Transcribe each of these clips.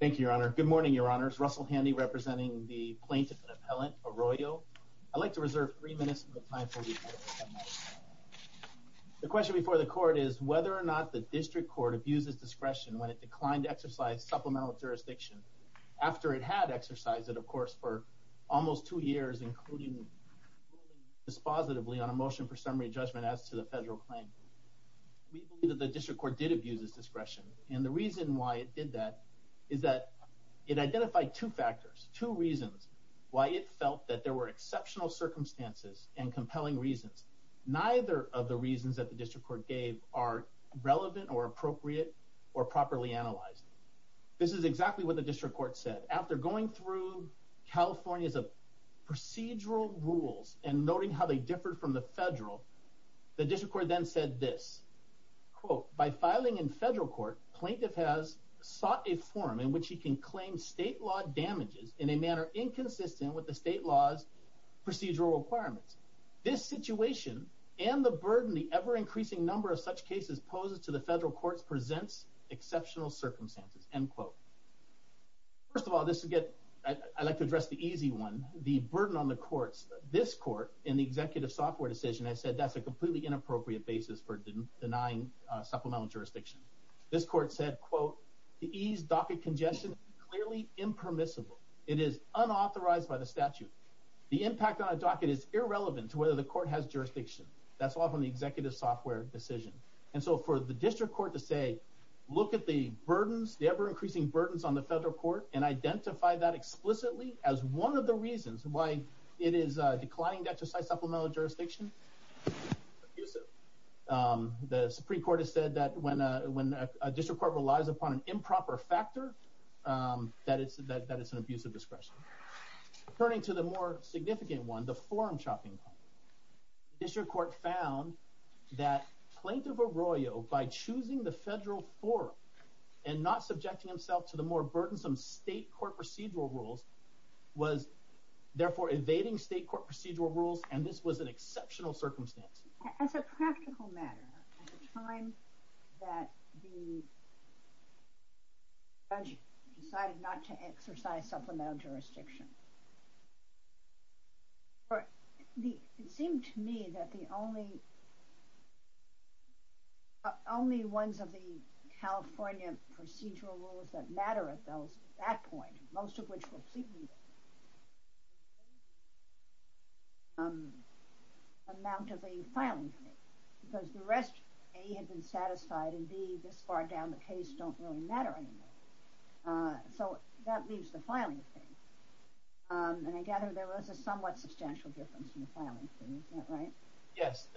Thank you, Your Honor. Good morning, Your Honors. Russell Handy, representing the plaintiff and appellant, Arroyo. I'd like to reserve three minutes of your time for review. The question before the Court is whether or not the District Court abuses discretion when it declined to exercise supplemental jurisdiction, after it had exercised it, of course, for almost two years, including ruling dispositively on a motion for summary judgment as to the federal claim. We believe that the District Court did abuse its discretion, and the reason why it did that is that it identified two factors, two reasons why it felt that there were exceptional circumstances and compelling reasons. Neither of the reasons that the District Court gave are relevant or appropriate or properly analyzed. This is exactly what the District Court said. After going through California's procedural rules and noting how they differed from the federal, the District Court then said this, First of all, I'd like to address the easy one, the burden on the courts. This Court, in the executive software decision, has said that's a completely inappropriate basis for denying supplemental jurisdiction. This Court said, And so for the District Court to say, look at the burdens, the ever-increasing burdens on the federal court, and identify that explicitly as one of the reasons why it is declining to exercise supplemental jurisdiction, is abusive. The Supreme Court has said that when a District Court relies upon an improper factor, that it's an abusive discretion. Turning to the more significant one, the forum chopping point. The District Court found that Plaintiff Arroyo, by choosing the federal forum, and not subjecting himself to the more burdensome state court procedural rules, was therefore evading state court procedural rules, and this was an exceptional circumstance. As a practical matter, at the time that the judge decided not to exercise supplemental jurisdiction, it seemed to me that the only ones of the California procedural rules that matter at that point, most of which were pleading, was the amount of the filing fee. Because the rest, A, had been satisfied, and B, this far down the case, don't really matter anymore. So that leaves the filing fee. And I gather there was a somewhat substantial difference in the filing fee, is that right? Yes,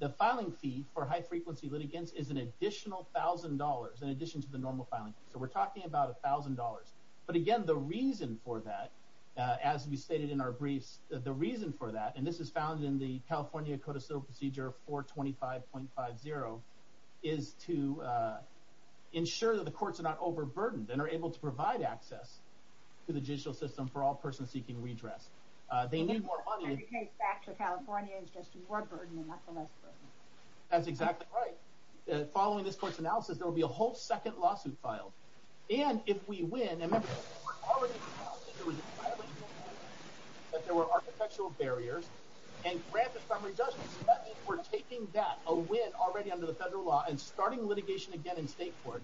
the filing fee for high-frequency litigants is an additional $1,000 in addition to the normal filing fee. So we're talking about $1,000. But again, the reason for that, as we stated in our briefs, the reason for that, and this is found in the California Code of Civil Procedure 425.50, is to ensure that the courts are not overburdened, and are able to provide access to the judicial system for all persons seeking redress. They need more money. And the case back to California is just more burden, and not the less burden. That's exactly right. Following this court's analysis, there will be a whole second lawsuit filed. And if we win, and remember, there were architectural barriers, and granted some redress, we're taking that, a win already under the federal law, and starting litigation again in state court.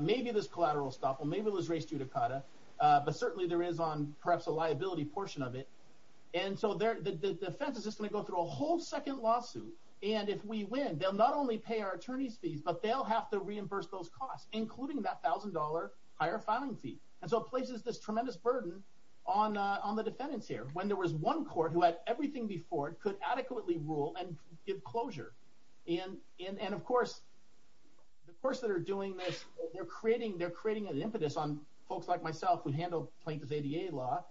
Maybe this collateral stop, or maybe it was race judicata, but certainly there is on perhaps a liability portion of it. And so the defense is just going to go through a whole second lawsuit. And if we win, they'll not only pay our attorneys fees, but they'll have to reimburse those costs, including that $1,000 higher filing fee. And so it places this tremendous burden on the defendants here. When there was one court who had everything before it, could adequately rule and give closure. And of course, the courts that are doing this, they're creating an impetus on folks like myself who handle plaintiff's ADA law.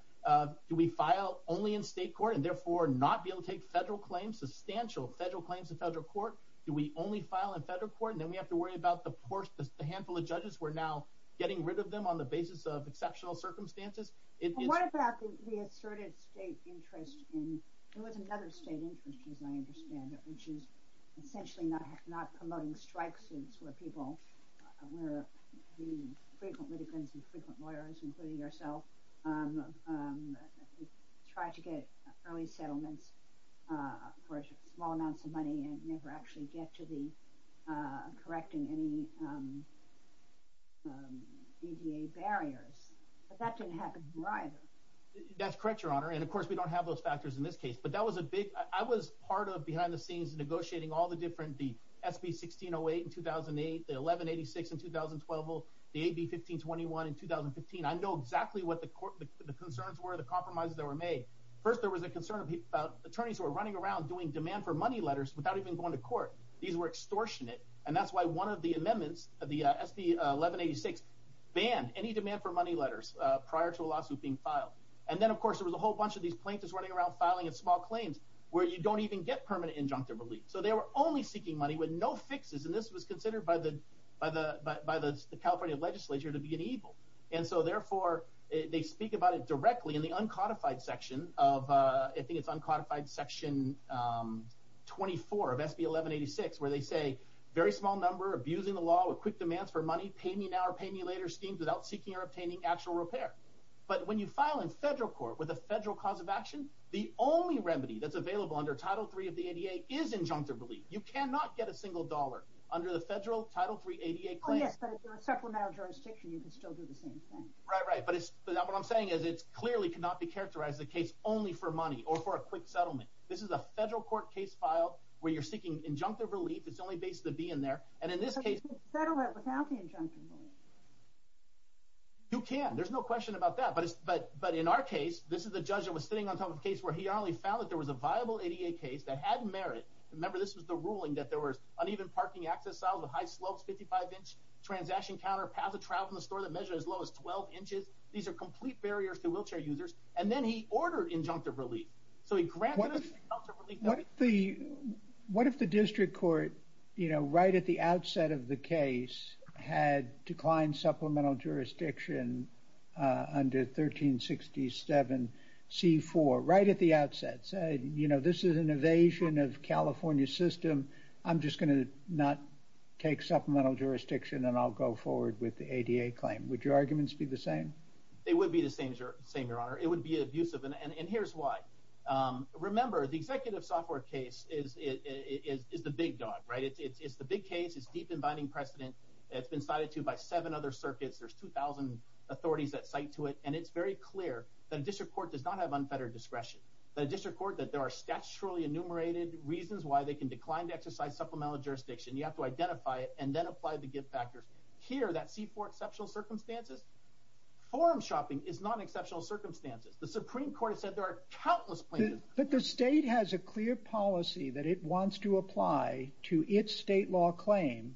Do we file only in state court, and therefore not be able to take federal claims, substantial federal claims in federal court? Do we only file in federal court, and then we have to worry about the handful of judges who are now getting rid of them on the basis of exceptional circumstances? What about the asserted state interest in, there was another state interest as I understand it, which is essentially not promoting strike suits where people, where the frequent litigants and frequent lawyers, including yourself, try to get early settlements for small amounts of money and never actually get to correcting any ADA barriers. But that didn't happen here either. That's correct, Your Honor. And of course, we don't have those factors in this case. But that was a big, I was part of behind the scenes negotiating all the different, the SB1608 in 2008, the 1186 in 2012, the AB1521 in 2015. I know exactly what the concerns were, the compromises that were made. First, there was a concern about attorneys who were running around doing demand for money letters without even going to court. These were extortionate. And that's why one of the amendments of the SB1186 banned any demand for money letters prior to a lawsuit being filed. And then, of course, there was a whole bunch of these plaintiffs running around filing small claims where you don't even get permanent injunctive relief. So they were only seeking money with no fixes. And this was considered by the California legislature to be an evil. And so therefore, they speak about it directly in the uncodified section of, I think it's uncodified section 24 of SB1186, where they say, very small number, abusing the law with quick demands for money, pay me now or pay me later schemes without seeking or obtaining actual repair. But when you file in federal court with a federal cause of action, the only remedy that's available under Title III of the ADA is injunctive relief. You cannot get a single dollar under the federal Title III ADA claim. Oh yes, but if you're a supplemental jurisdiction, you can still do the same thing. Right, right. But what I'm saying is it clearly cannot be characterized as a case only for money or for a quick settlement. This is a federal court case file where you're seeking injunctive relief. It's only based to be in there. And in this case- But you can't settle it without the injunctive relief. You can. There's no question about that. But in our case, this is the judge that was sitting on top of the case where he only found that there was a viable ADA case that had merit. Remember, this was the ruling that there was uneven parking access with high slopes, 55-inch transaction counter, path of travel in the store that measured as low as 12 inches. These are complete barriers to wheelchair users. And then he ordered injunctive relief. What if the district court, you know, right at the outset of the case had declined supplemental jurisdiction under 1367C4, right at the outset, said, you know, this is an evasion of California's system. I'm just going to not take supplemental jurisdiction and I'll go forward with the ADA claim. Would your arguments be the same? They would be the same, Your Honor. It would be abusive. And here's why. Remember, the executive software case is the big dog, right? It's the big case. It's deep and binding precedent. It's been cited to by seven other circuits. There's 2,000 authorities that cite to it. And it's very clear that a district court does not have unfettered discretion, that a district court, that there are statutorily enumerated reasons why they can decline to exercise supplemental jurisdiction. You have to identify it and then apply the gift factors. Here, that C4 exceptional circumstances, forum shopping is not an exceptional circumstance. The Supreme Court has said there are countless places. But the state has a clear policy that it wants to apply to its state law claim,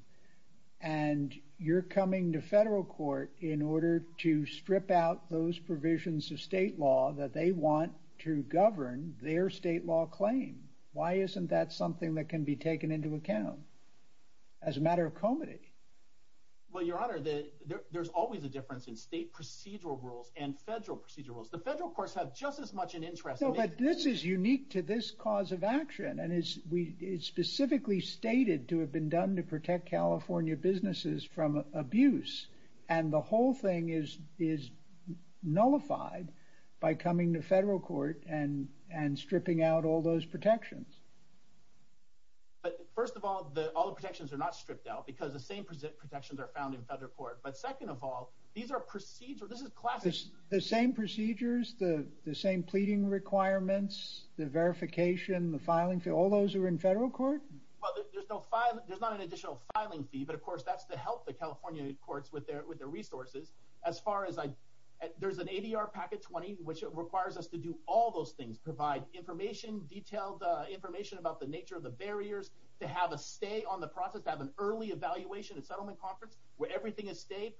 and you're coming to federal court in order to strip out those provisions of state law that they want to govern their state law claim. Why isn't that something that can be taken into account as a matter of comity? Well, Your Honor, there's always a difference in state procedural rules and federal procedural rules. The federal courts have just as much an interest... No, but this is unique to this cause of action, and it's specifically stated to have been done to protect California businesses from abuse. And the whole thing is nullified by coming to federal court and stripping out all those protections. But first of all, all the protections are not stripped out because the same protections are found in federal court. But second of all, these are procedural... The same procedures, the same pleading requirements, the verification, the filing fee, all those are in federal court? There's not an additional filing fee, but of course that's to help the California courts with their resources. There's an ADR packet 20, which requires us to do all those things, provide information, detailed information about the nature of the barriers, to have a stay on the process, to have an early evaluation at settlement conference where everything is state.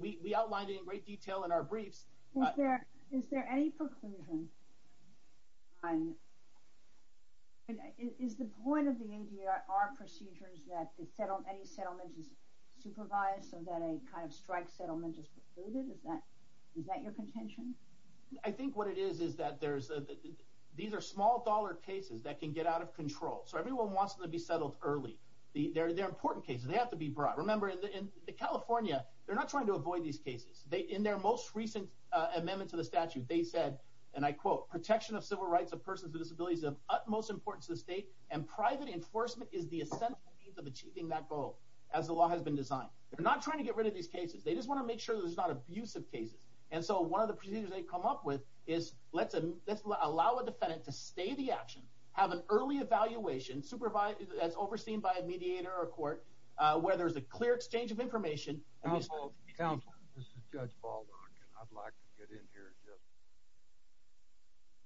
We outlined it in great detail in our briefs. Is there any preclusion? Is the point of the ADR procedures that any settlement is supervised so that a kind of strike settlement is precluded? Is that your contention? I think what it is is that these are small-dollar cases that can get out of control. So everyone wants them to be settled early. They're important cases. They have to be brought. Remember, in California, they're not trying to avoid these cases. In their most recent amendment to the statute, they said, and I quote, protection of civil rights of persons with disabilities is of utmost importance to the state, and private enforcement is the essential need of achieving that goal, as the law has been designed. They're not trying to get rid of these cases. They just want to make sure there's not abusive cases. And so one of the procedures they come up with is let's allow a defendant to stay the action, have an early evaluation, as overseen by a mediator or a court, where there's a clear exchange of information. Counsel, this is Judge Baldwin, and I'd like to get in here and just...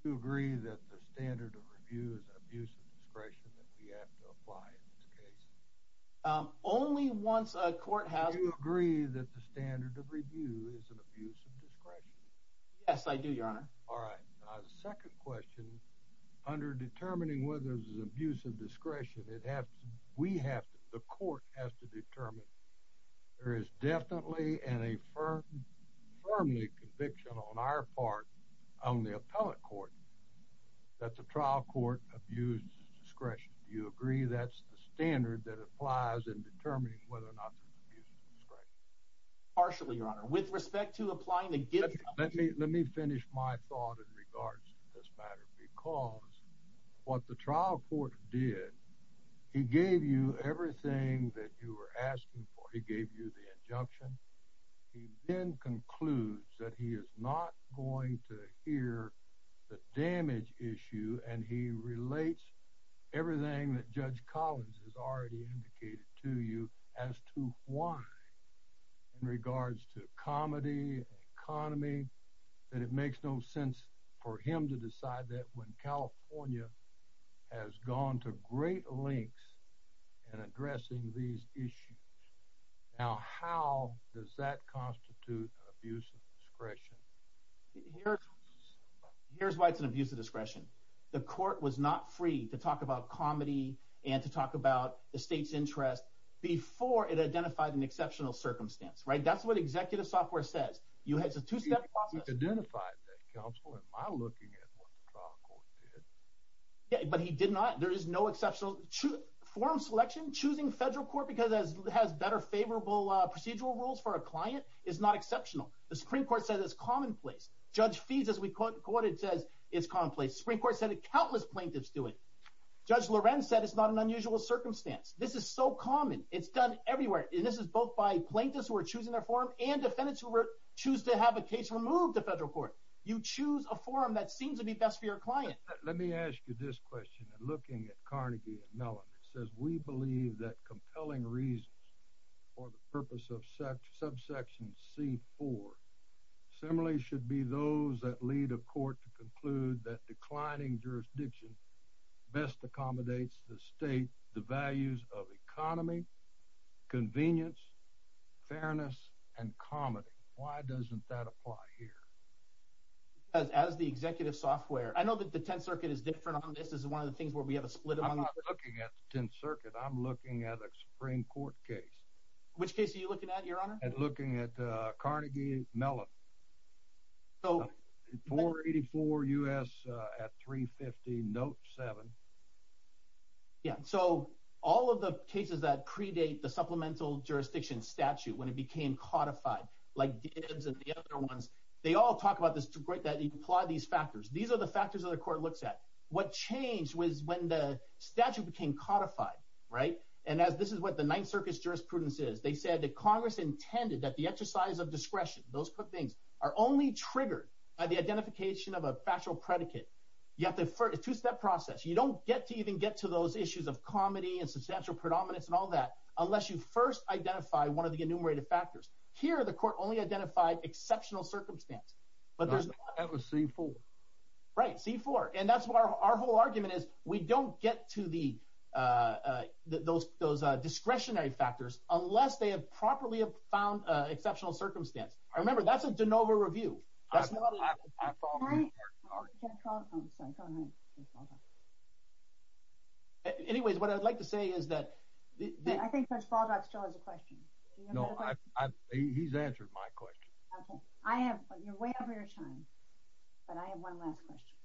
Do you agree that the standard of review is an abuse of discretion that we have to apply in this case? Only once a court has... Do you agree that the standard of review is an abuse of discretion? Yes, I do, Your Honor. All right. The second question, under determining whether there's an abuse of discretion, we have to, the court has to determine there is definitely and a firmly conviction on our part, on the appellate court, that the trial court abuses discretion. Do you agree that's the standard that applies in determining whether or not there's an abuse of discretion? Partially, Your Honor. With respect to applying the gift... Let me finish my thought in regards to this matter, because what the trial court did, he gave you everything that you were asking for. He gave you the injunction. He then concludes that he is not going to hear the damage issue, and he relates everything that Judge Collins has already indicated to you as to why, in regards to comedy, economy, that it makes no sense for him to decide that when California has gone to great lengths in addressing these issues. Now, how does that constitute an abuse of discretion? Here's why it's an abuse of discretion. The court was not free to talk about comedy and to talk about the state's interest before it identified an exceptional circumstance, right? That's what executive software says. It's a two-step process. We've identified that, counsel. Am I looking at what the trial court did? Yeah, but he did not. There is no exceptional... Forum selection, choosing federal court because it has better, favorable procedural rules for a client is not exceptional. The Supreme Court said it's commonplace. Judge Fees, as we quoted, says it's commonplace. The Supreme Court said it. Countless plaintiffs do it. Judge Lorenz said it's not an unusual circumstance. This is so common. It's done everywhere, and this is both by plaintiffs who are choosing their forum and defendants who choose to have a case removed to federal court. You choose a forum that seems to be best for your client. Let me ask you this question. Looking at Carnegie and Mellon, it says, we believe that compelling reasons for the purpose of subsection C-4 similarly should be those that lead a court to conclude that declining jurisdiction best accommodates the state the values of economy, convenience, fairness, and comedy. Why doesn't that apply here? As the executive software... I know that the Tenth Circuit is different on this. This is one of the things where we have a split among... I'm not looking at the Tenth Circuit. I'm looking at a Supreme Court case. Which case are you looking at, Your Honor? I'm looking at Carnegie and Mellon. So... 484 U.S. at 350, note 7. Yeah. So all of the cases that predate the supplemental jurisdiction statute when it became codified, like Dibbs and the other ones, they all talk about this... that they apply these factors. These are the factors that the court looks at. What changed was when the statute became codified, right? And this is what the Ninth Circuit's jurisprudence is. They said that Congress intended that the exercise of discretion, those things, are only triggered by the identification of a factual predicate. You have to... It's a two-step process. You don't get to even get to those issues of comedy and substantial predominance and all that unless you first identify one of the enumerated factors. Here, the court only identified exceptional circumstance. That was C-4. Right, C-4. And that's why our whole argument is we don't get to those discretionary factors unless they have properly found exceptional circumstance. Remember, that's a de novo review. That's not a... Anyways, what I'd like to say is that... I think Judge Baldock still has a question. No, he's answered my question. Okay. You're way over your time. But I have one last question.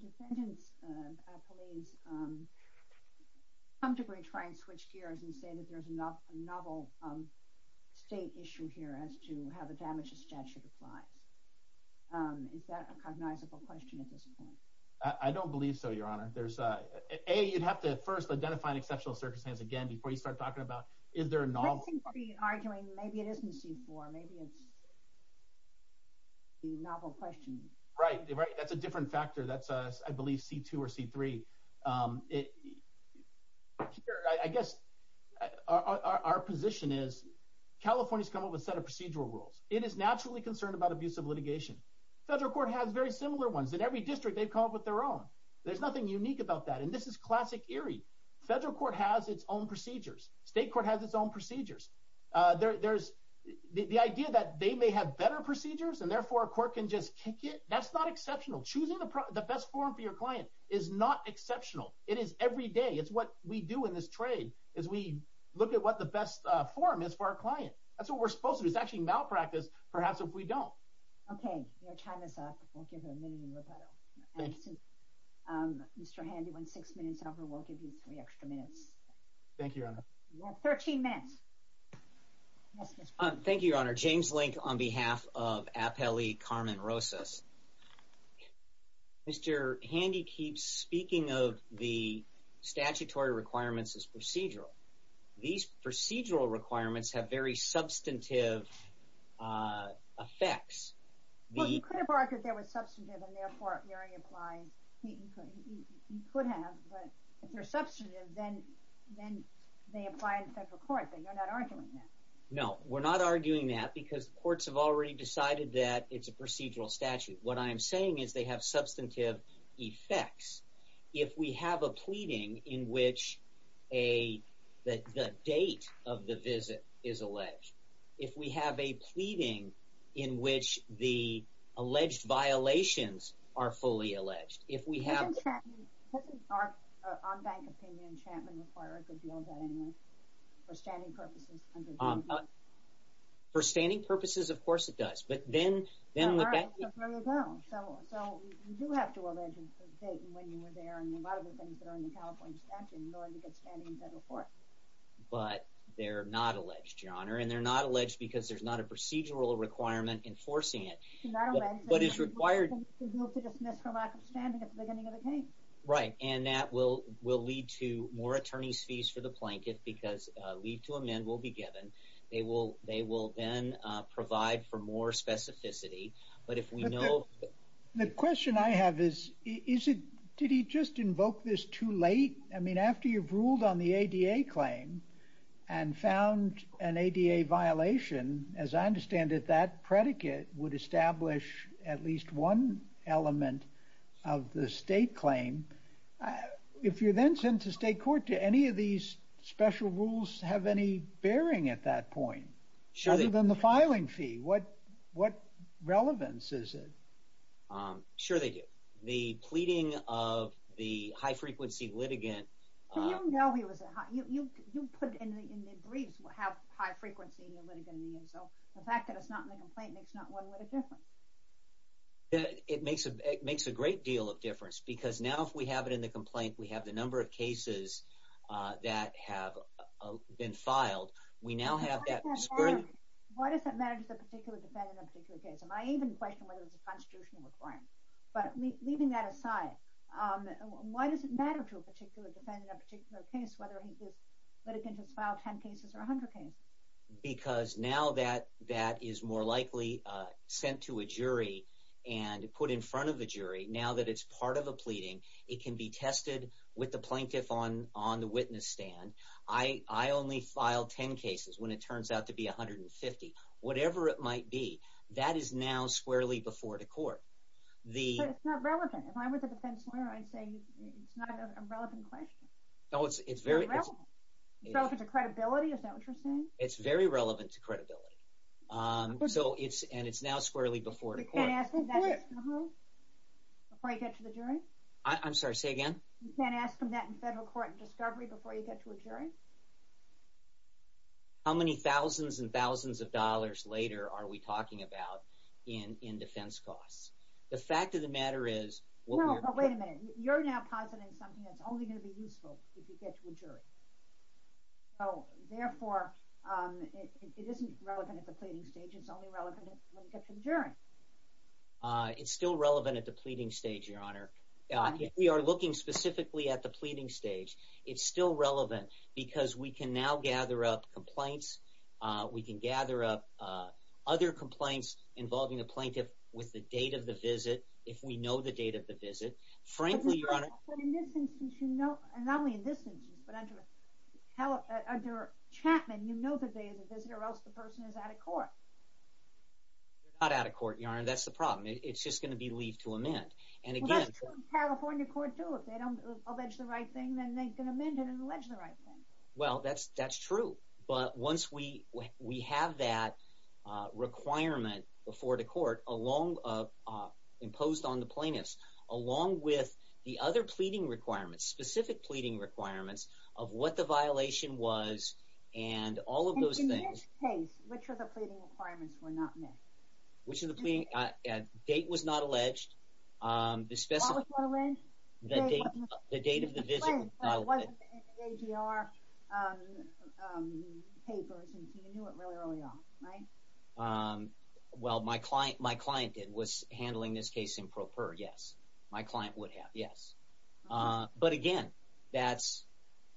Defendants, police, come to try and switch gears and say that there's a novel state issue here as to how the damages statute applies. Is that a cognizable question at this point? I don't believe so, Your Honor. A, you'd have to first identify an exceptional circumstance again before you start talking about is there a novel... I think you're arguing maybe it isn't C-4. Maybe it's the novel question. Right, that's a different factor. That's, I believe, C-2 or C-3. I guess our position is California's come up with a set of procedural rules. It is naturally concerned about abusive litigation. Federal court has very similar ones. In every district, they've come up with their own. There's nothing unique about that. And this is classic Erie. Federal court has its own procedures. State court has its own procedures. The idea that they may have better procedures and therefore a court can just kick it, that's not exceptional. Choosing the best forum for your client is not exceptional. It is every day. It's what we do in this trade is we look at what the best forum is for our client. That's what we're supposed to do. It's actually malpractice, perhaps, if we don't. Okay. Your time is up. We'll give you a minute to rebuttal. Thank you. Mr. Handy, when six minutes over, we'll give you three extra minutes. Thank you, Your Honor. You have 13 minutes. Thank you, Your Honor. James Link on behalf of Appellee Carmen Rosas. Mr. Handy keeps speaking of the statutory requirements as procedural. These procedural requirements have very substantive effects. Well, you could have argued they were substantive and therefore Erie applies. You could have, but if they're substantive, then they apply in federal court, but you're not arguing that. No, we're not arguing that because courts have already decided that it's a procedural statute. What I am saying is they have substantive effects. If we have a pleading in which the date of the visit is alleged, if we have a pleading in which the alleged violations are fully alleged, if we have... Doesn't our on-bank opinion enchantment require a good deal of that anyway, for standing purposes? For standing purposes, of course it does, but then the bank... So you do have to allege the date and when you were there and a lot of the things that are in the California statute in order to get standing in federal court. But they're not alleged, Your Honor, and they're not alleged because there's not a procedural requirement enforcing it. They're not alleged... But it's required... ...to move to dismiss for lack of standing at the beginning of the case. Right, and that will lead to more attorney's fees for the blanket because leave to amend will be given. They will then provide for more specificity, but if we know... The question I have is, did he just invoke this too late? I mean, after you've ruled on the ADA claim and found an ADA violation, as I understand it, that predicate would establish at least one element of the state claim. If you're then sent to state court, do any of these special rules have any bearing at that point? Sure they do. Other than the filing fee, what relevance is it? Sure they do. The pleading of the high-frequency litigant... But you know he was a high... You put in the briefs how high-frequency the litigant is, so the fact that it's not in the complaint makes not one little difference. It makes a great deal of difference because now if we have it in the complaint, we have the number of cases that have been filed. We now have that... Why does that matter to a particular defendant in a particular case? Am I even questioning whether it's a constitutional requirement? But leaving that aside, why does it matter to a particular defendant in a particular case whether this litigant has filed 10 cases or 100 cases? Because now that is more likely sent to a jury and put in front of a jury, now that it's part of a pleading, it can be tested with the plaintiff on the witness stand. I only filed 10 cases when it turns out to be 150. Whatever it might be, that is now squarely before the court. But it's not relevant. If I were the defense lawyer, I'd say it's not a relevant question. No, it's very... It's not relevant. It's relevant to credibility. Is that what you're saying? It's very relevant to credibility. And it's now squarely before the court. You can't ask him that in federal court before you get to the jury? I'm sorry, say again? You can't ask him that in federal court in discovery before you get to a jury? How many thousands and thousands of dollars later are we talking about in defense costs? The fact of the matter is... No, but wait a minute. You're now positing something that's only going to be useful if you get to a jury. So, therefore, it isn't relevant at the pleading stage. It's only relevant when you get to the jury. It's still relevant at the pleading stage, Your Honor. If we are looking specifically at the pleading stage, it's still relevant because we can now gather up complaints. We can gather up other complaints involving a plaintiff with the date of the visit, if we know the date of the visit. Frankly, Your Honor... But in this instance, you know... Not only in this instance, but under Chapman, you know that there is a visitor or else the person is out of court. They're not out of court, Your Honor. That's the problem. It's just going to be leave to amend. Well, that's what the California court do. If they don't allege the right thing, then they can amend it and allege the right thing. Well, that's true. But once we have that requirement before the court imposed on the plaintiff, along with the other pleading requirements, specific pleading requirements, of what the violation was and all of those things... And in this case, which of the pleading requirements were not met? Which of the pleading... Date was not alleged. What was not alleged? The date of the visit. Right. It wasn't in the AGR papers, and so you knew it really early on, right? Well, my client did. It was handling this case in pro per, yes. My client would have, yes. But again, that's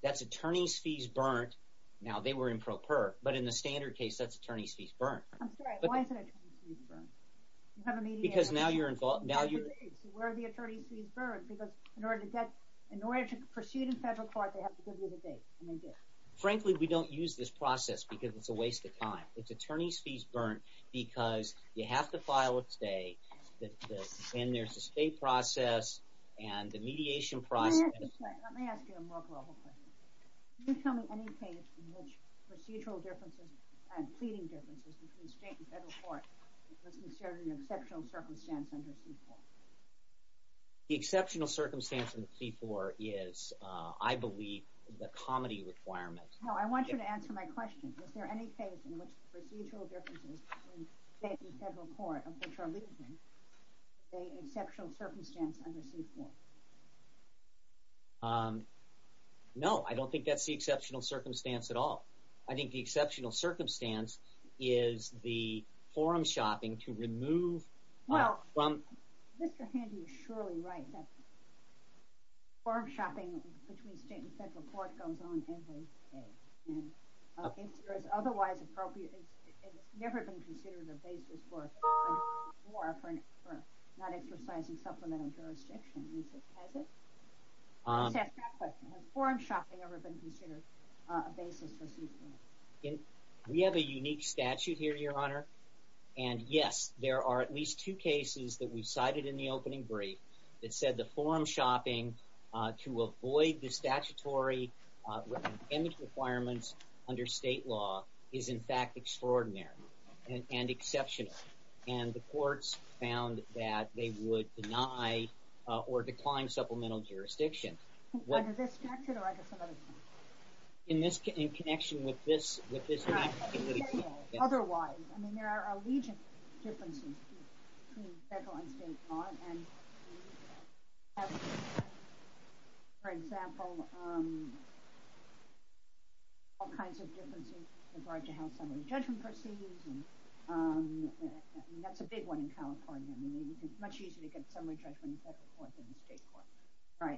attorney's fees burnt. Now, they were in pro per, but in the standard case, that's attorney's fees burnt. I'm sorry. Why is it attorney's fees burnt? Because now you're involved... Where are the attorney's fees burnt? Because in order to get... In order to proceed in federal court, they have to give you the date, and they did. Frankly, we don't use this process because it's a waste of time. It's attorney's fees burnt because you have to file a stay, and there's a stay process and the mediation process... Let me ask you a more global question. Can you tell me any case in which procedural differences and pleading differences between state and federal court was considered an exceptional circumstance under C-4? The exceptional circumstance under C-4 is, I believe, the comedy requirement. No, I want you to answer my question. Is there any case in which procedural differences between state and federal court of which are leaving is an exceptional circumstance under C-4? No, I don't think that's the exceptional circumstance at all. I think the exceptional circumstance is the forum shopping to remove... Well, Mr. Handy is surely right that forum shopping between state and federal court goes on every day. If there is otherwise appropriate... It's never been considered a basis for not exercising supplemental jurisdiction. Has it? Let's ask that question. Has forum shopping ever been considered a basis for C-4? We have a unique statute here, Your Honor, and, yes, there are at least two cases that we've cited in the opening brief that said the forum shopping to avoid the statutory requirements under state law is, in fact, extraordinary and exceptional. And the courts found that they would deny or decline supplemental jurisdiction. Is this connected or I guess another thing? In connection with this... Otherwise, I mean, there are allegiant differences between federal and state law, and we have, for example, all kinds of differences with regard to how summary judgment proceeds, and that's a big one in California. I mean, it's much easier to get summary judgment in federal court than in state court.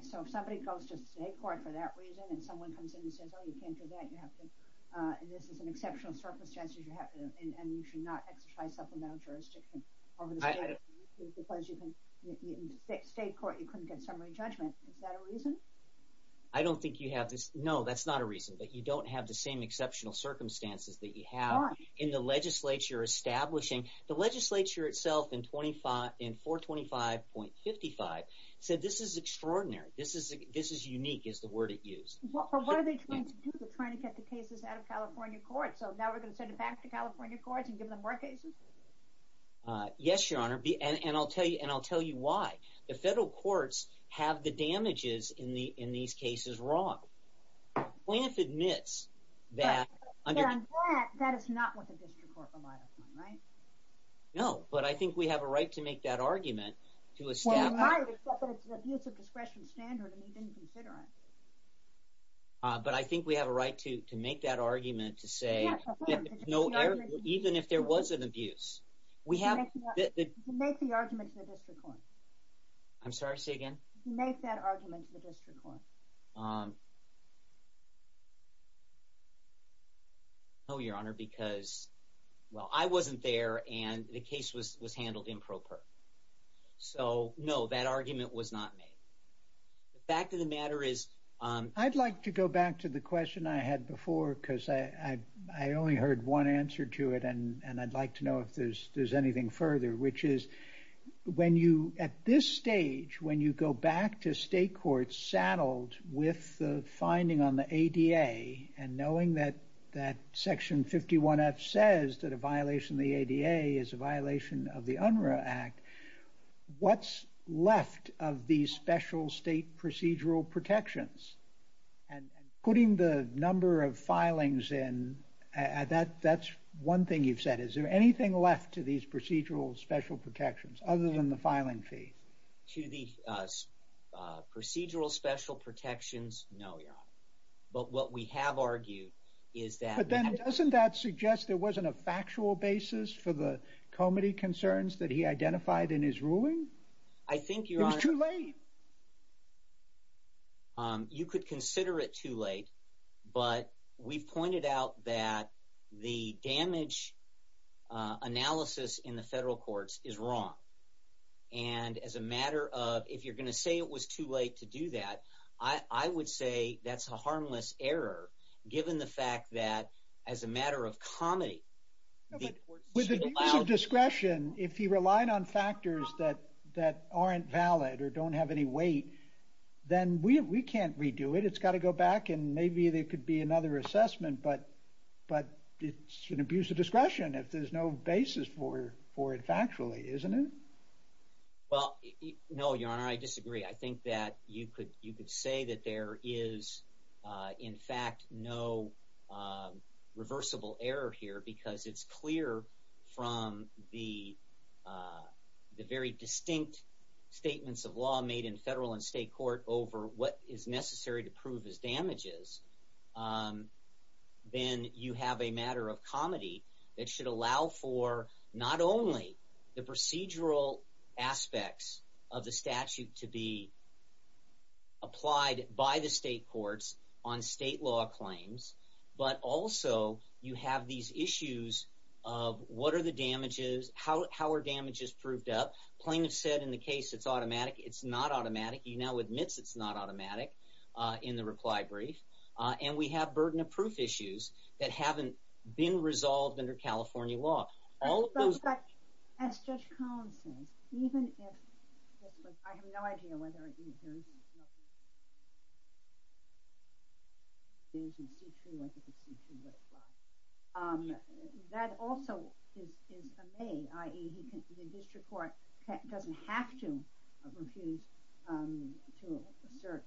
So if somebody goes to state court for that reason, and someone comes in and says, oh, you can't do that, and this is an exceptional circumstance, and you should not exercise supplemental jurisdiction over the statute, because in state court you couldn't get summary judgment, is that a reason? I don't think you have this... No, that's not a reason, but you don't have the same exceptional circumstances that you have in the legislature establishing... The legislature itself in 425.55 said this is extraordinary, this is unique is the word it used. What are they trying to do? They're trying to get the cases out of California courts, so now we're going to send them back to California courts and give them more cases? Yes, Your Honor, and I'll tell you why. The federal courts have the damages in these cases wrong. Plante admits that... But on that, that is not what the district court relied upon, right? No, but I think we have a right to make that argument to a staff... Well, you might, but it's an abuse of discretion standard, and you didn't consider it. But I think we have a right to make that argument to say... Yes, of course. Even if there was an abuse. We have... You can make the argument to the district court. I'm sorry, say again? You can make that argument to the district court. No, Your Honor, because, well, I wasn't there, and the case was handled improper. So, no, that argument was not made. The fact of the matter is... I'd like to go back to the question I had before, because I only heard one answer to it, and I'd like to know if there's anything further, which is, at this stage, when you go back to state courts saddled with the finding on the ADA, and knowing that Section 51F says that a violation of the ADA is a violation of the UNRRA Act, what's left of these special state procedural protections? And putting the number of filings in, that's one thing you've said. Is there anything left to these procedural special protections other than the filing fee? To the procedural special protections? No, Your Honor. But what we have argued is that... But then doesn't that suggest there wasn't a factual basis for the comity concerns that he identified in his ruling? I think, Your Honor... It was too late. You could consider it too late, but we've pointed out that the damage analysis in the federal courts is wrong. And as a matter of... If you're going to say it was too late to do that, I would say that's a harmless error, given the fact that, as a matter of comity... With an abuse of discretion, if he relied on factors that aren't valid or don't have any weight, then we can't redo it. It's got to go back, and maybe there could be another assessment, but it's an abuse of discretion if there's no basis for it factually, isn't it? Well, no, Your Honor, I disagree. I think that you could say that there is, in fact, no reversible error here because it's clear from the very distinct statements of law made in federal and state court over what is necessary to prove his damages. Then you have a matter of comity that should allow for not only the procedural aspects of the statute to be applied by the state courts on state law claims, but also you have these issues of what are the damages, how are damages proved up. Plaintiff said in the case it's automatic. It's not automatic. He now admits it's not automatic in the reply brief. And we have burden of proof issues that haven't been resolved under California law. All of those... But, as Judge Collins says, even if... I have no idea whether... There's nothing... That also is a may, i.e. the district court doesn't have to refuse to assert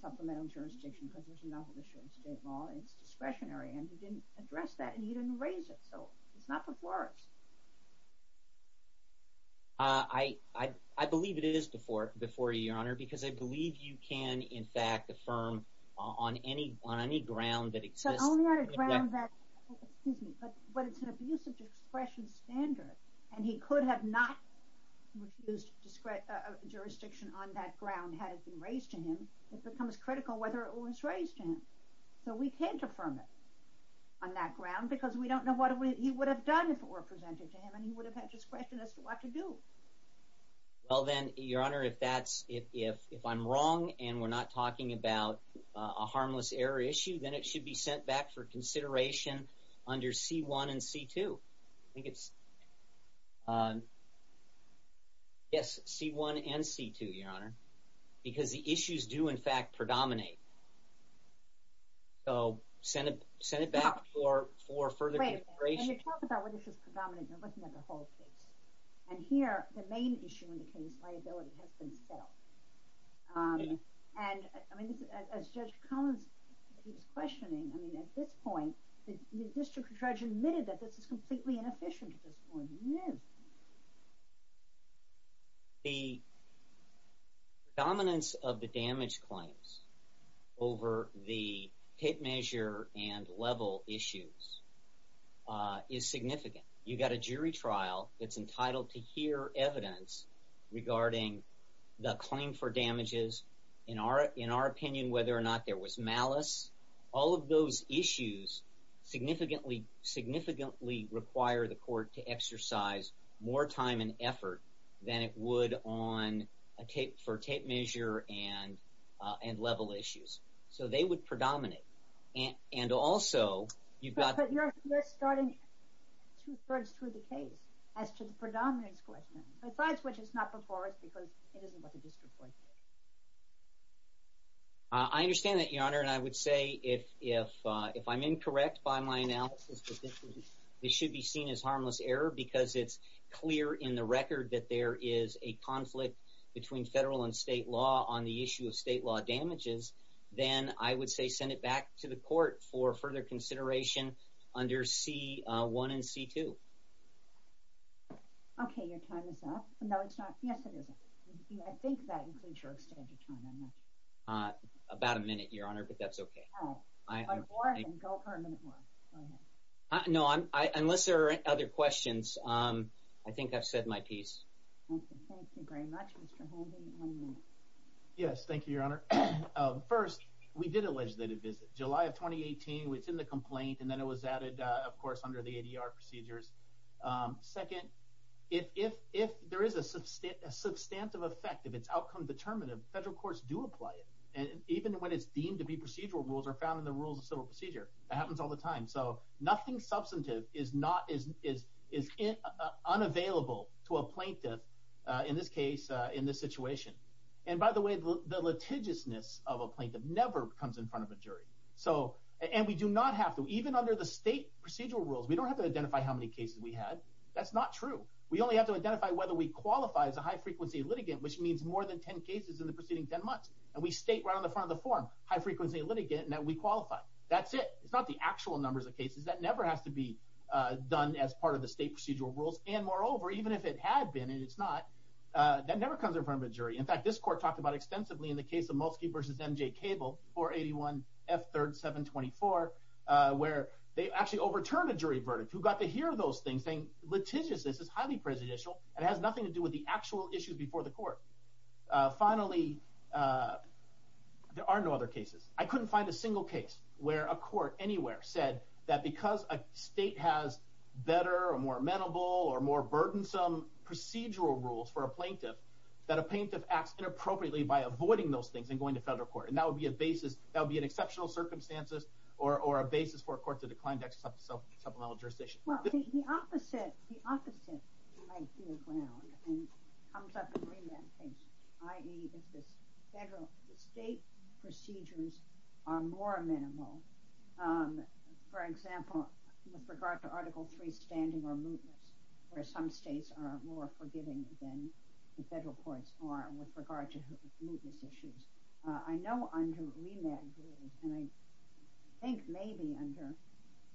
supplemental jurisdiction because there's an obligation to state law. It's discretionary. And he didn't address that and he didn't raise it. So it's not before us. I believe it is before you, Your Honor, because I believe you can, in fact, affirm on any ground that exists... So only on a ground that... But it's an abusive discretion standard and he could have not refused jurisdiction on that ground had it been raised to him. It becomes critical whether it was raised to him. So we can't affirm it on that ground because we don't know what he would have done if it were presented to him and he would have had discretion as to what to do. Well then, Your Honor, if that's... If I'm wrong and we're not talking about a harmless error issue, then it should be sent back for consideration under C1 and C2. I think it's... Yes, C1 and C2, Your Honor, because the issues do, in fact, predominate. So send it back for further consideration. When you talk about whether this is predominant, you're looking at the whole case. And here, the main issue in the case, liability, has been settled. And as Judge Collins keeps questioning, I mean, at this point, the district judge admitted that this is completely inefficient at this point. He knew. The predominance of the damage claims over the hit measure and level issues is significant. You've got a jury trial that's entitled to hear evidence regarding the claim for damages, in our opinion, whether or not there was malice. All of those issues significantly require the court to exercise more time and effort than it would on... for tape measure and level issues. So they would predominate. And also, you've got... But you're starting two-thirds through the case as to the predominance question. Besides which, it's not before us because it isn't what the district court did. I understand that, Your Honor. And I would say if I'm incorrect by my analysis, this should be seen as harmless error because it's clear in the record that there is a conflict between federal and state law on the issue of state law damages. Then I would say send it back to the court for further consideration under C-1 and C-2. Okay, your time is up. No, it's not. Yes, it is. I think that includes your extended time. About a minute, Your Honor, but that's okay. All right. Go for a minute more. Go ahead. No, unless there are other questions, I think I've said my piece. Okay, thank you very much, Mr. Holden. One minute. Yes, thank you, Your Honor. First, we did a legislative visit. July of 2018, it's in the complaint, and then it was added, of course, under the ADR procedures. Second, if there is a substantive effect, if it's outcome-determinative, federal courts do apply it. Even when it's deemed to be procedural rules or found in the rules of civil procedure, that happens all the time. So nothing substantive is unavailable to a plaintiff, in this case, in this situation. And by the way, the litigiousness of a plaintiff never comes in front of a jury. And we do not have to. Even under the state procedural rules, we don't have to identify how many cases we had. That's not true. We only have to identify whether we qualify as a high-frequency litigant, which means more than 10 cases in the preceding 10 months. And we state right on the front of the form, high-frequency litigant, and that we qualify. That's it. It's not the actual numbers of cases. That never has to be done as part of the state procedural rules. And moreover, even if it had been, and it's not, that never comes in front of a jury. In fact, this court talked about extensively in the case of Mulsky v. M.J. Cable, 481 F. 3rd 724, where they actually overturned a jury verdict. Who got to hear those things, saying litigiousness is highly presidential and has nothing to do with the actual issues before the court. Finally, there are no other cases. I couldn't find a single case where a court anywhere said that because a state has better or more amenable or more burdensome procedural rules for a plaintiff, that a plaintiff acts inappropriately by avoiding those things and going to federal court. And that would be a basis, that would be an exceptional circumstance or a basis for a court to decline to accept supplemental jurisdiction. Well, the opposite might be a ground and comes up in remand cases. I.e., if the state procedures are more amenable. For example, with regard to Article III standing or mootness, where some states are more forgiving than the federal courts are with regard to mootness issues. I know under remand rules, and I think maybe under,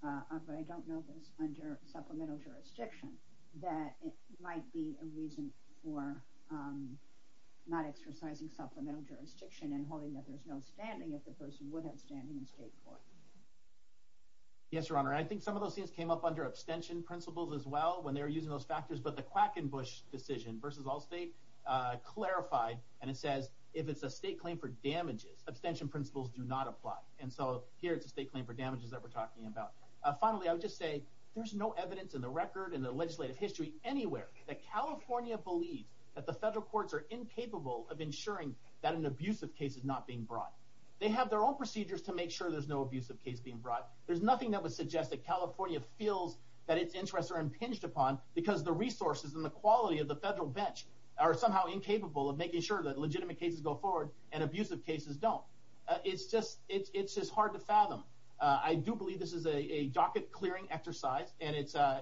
but I don't know this, under supplemental jurisdiction, that it might be a reason for not exercising supplemental jurisdiction and holding that there's no standing if the person would have standing in state court. Yes, Your Honor. I think some of those things came up under abstention principles as well when they were using those factors, but the Quackenbush decision versus Allstate clarified, and it says, if it's a state claim for damages, abstention principles do not apply. And so here it's a state claim for damages that we're talking about. Finally, I would just say, there's no evidence in the record and the legislative history anywhere that California believes that the federal courts are incapable of ensuring that an abusive case is not being brought. They have their own procedures to make sure there's no abusive case being brought. There's nothing that would suggest that California feels that its interests are impinged upon because the resources and the quality of the federal bench are somehow incapable of making sure that legitimate cases go forward and abusive cases don't. It's just hard to fathom. I do believe this is a docket-clearing exercise, and it's a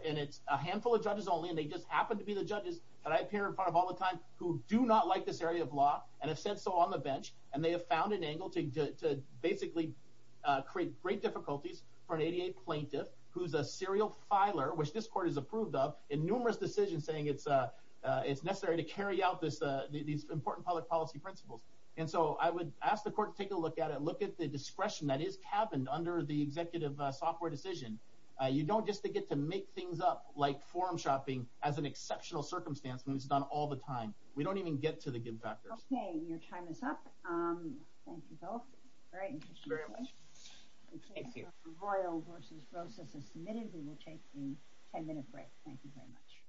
handful of judges only, and they just happen to be the judges that I appear in front of all the time who do not like this area of law and have said so on the bench, and they have found an angle to basically create great difficulties for an ADA plaintiff who's a serial filer, which this court has approved of, in numerous decisions saying it's necessary to carry out these important public policy principles. And so I would ask the court to take a look at it, look at the discretion that is cabined under the executive software decision. You don't just get to make things up, like forum shopping, as an exceptional circumstance when it's done all the time. We don't even get to the good factors. Okay, your time is up. Thank you both. Great. Thank you very much. Thank you. Royal v. Rosas is submitted. We will take a ten-minute break. Thank you very much.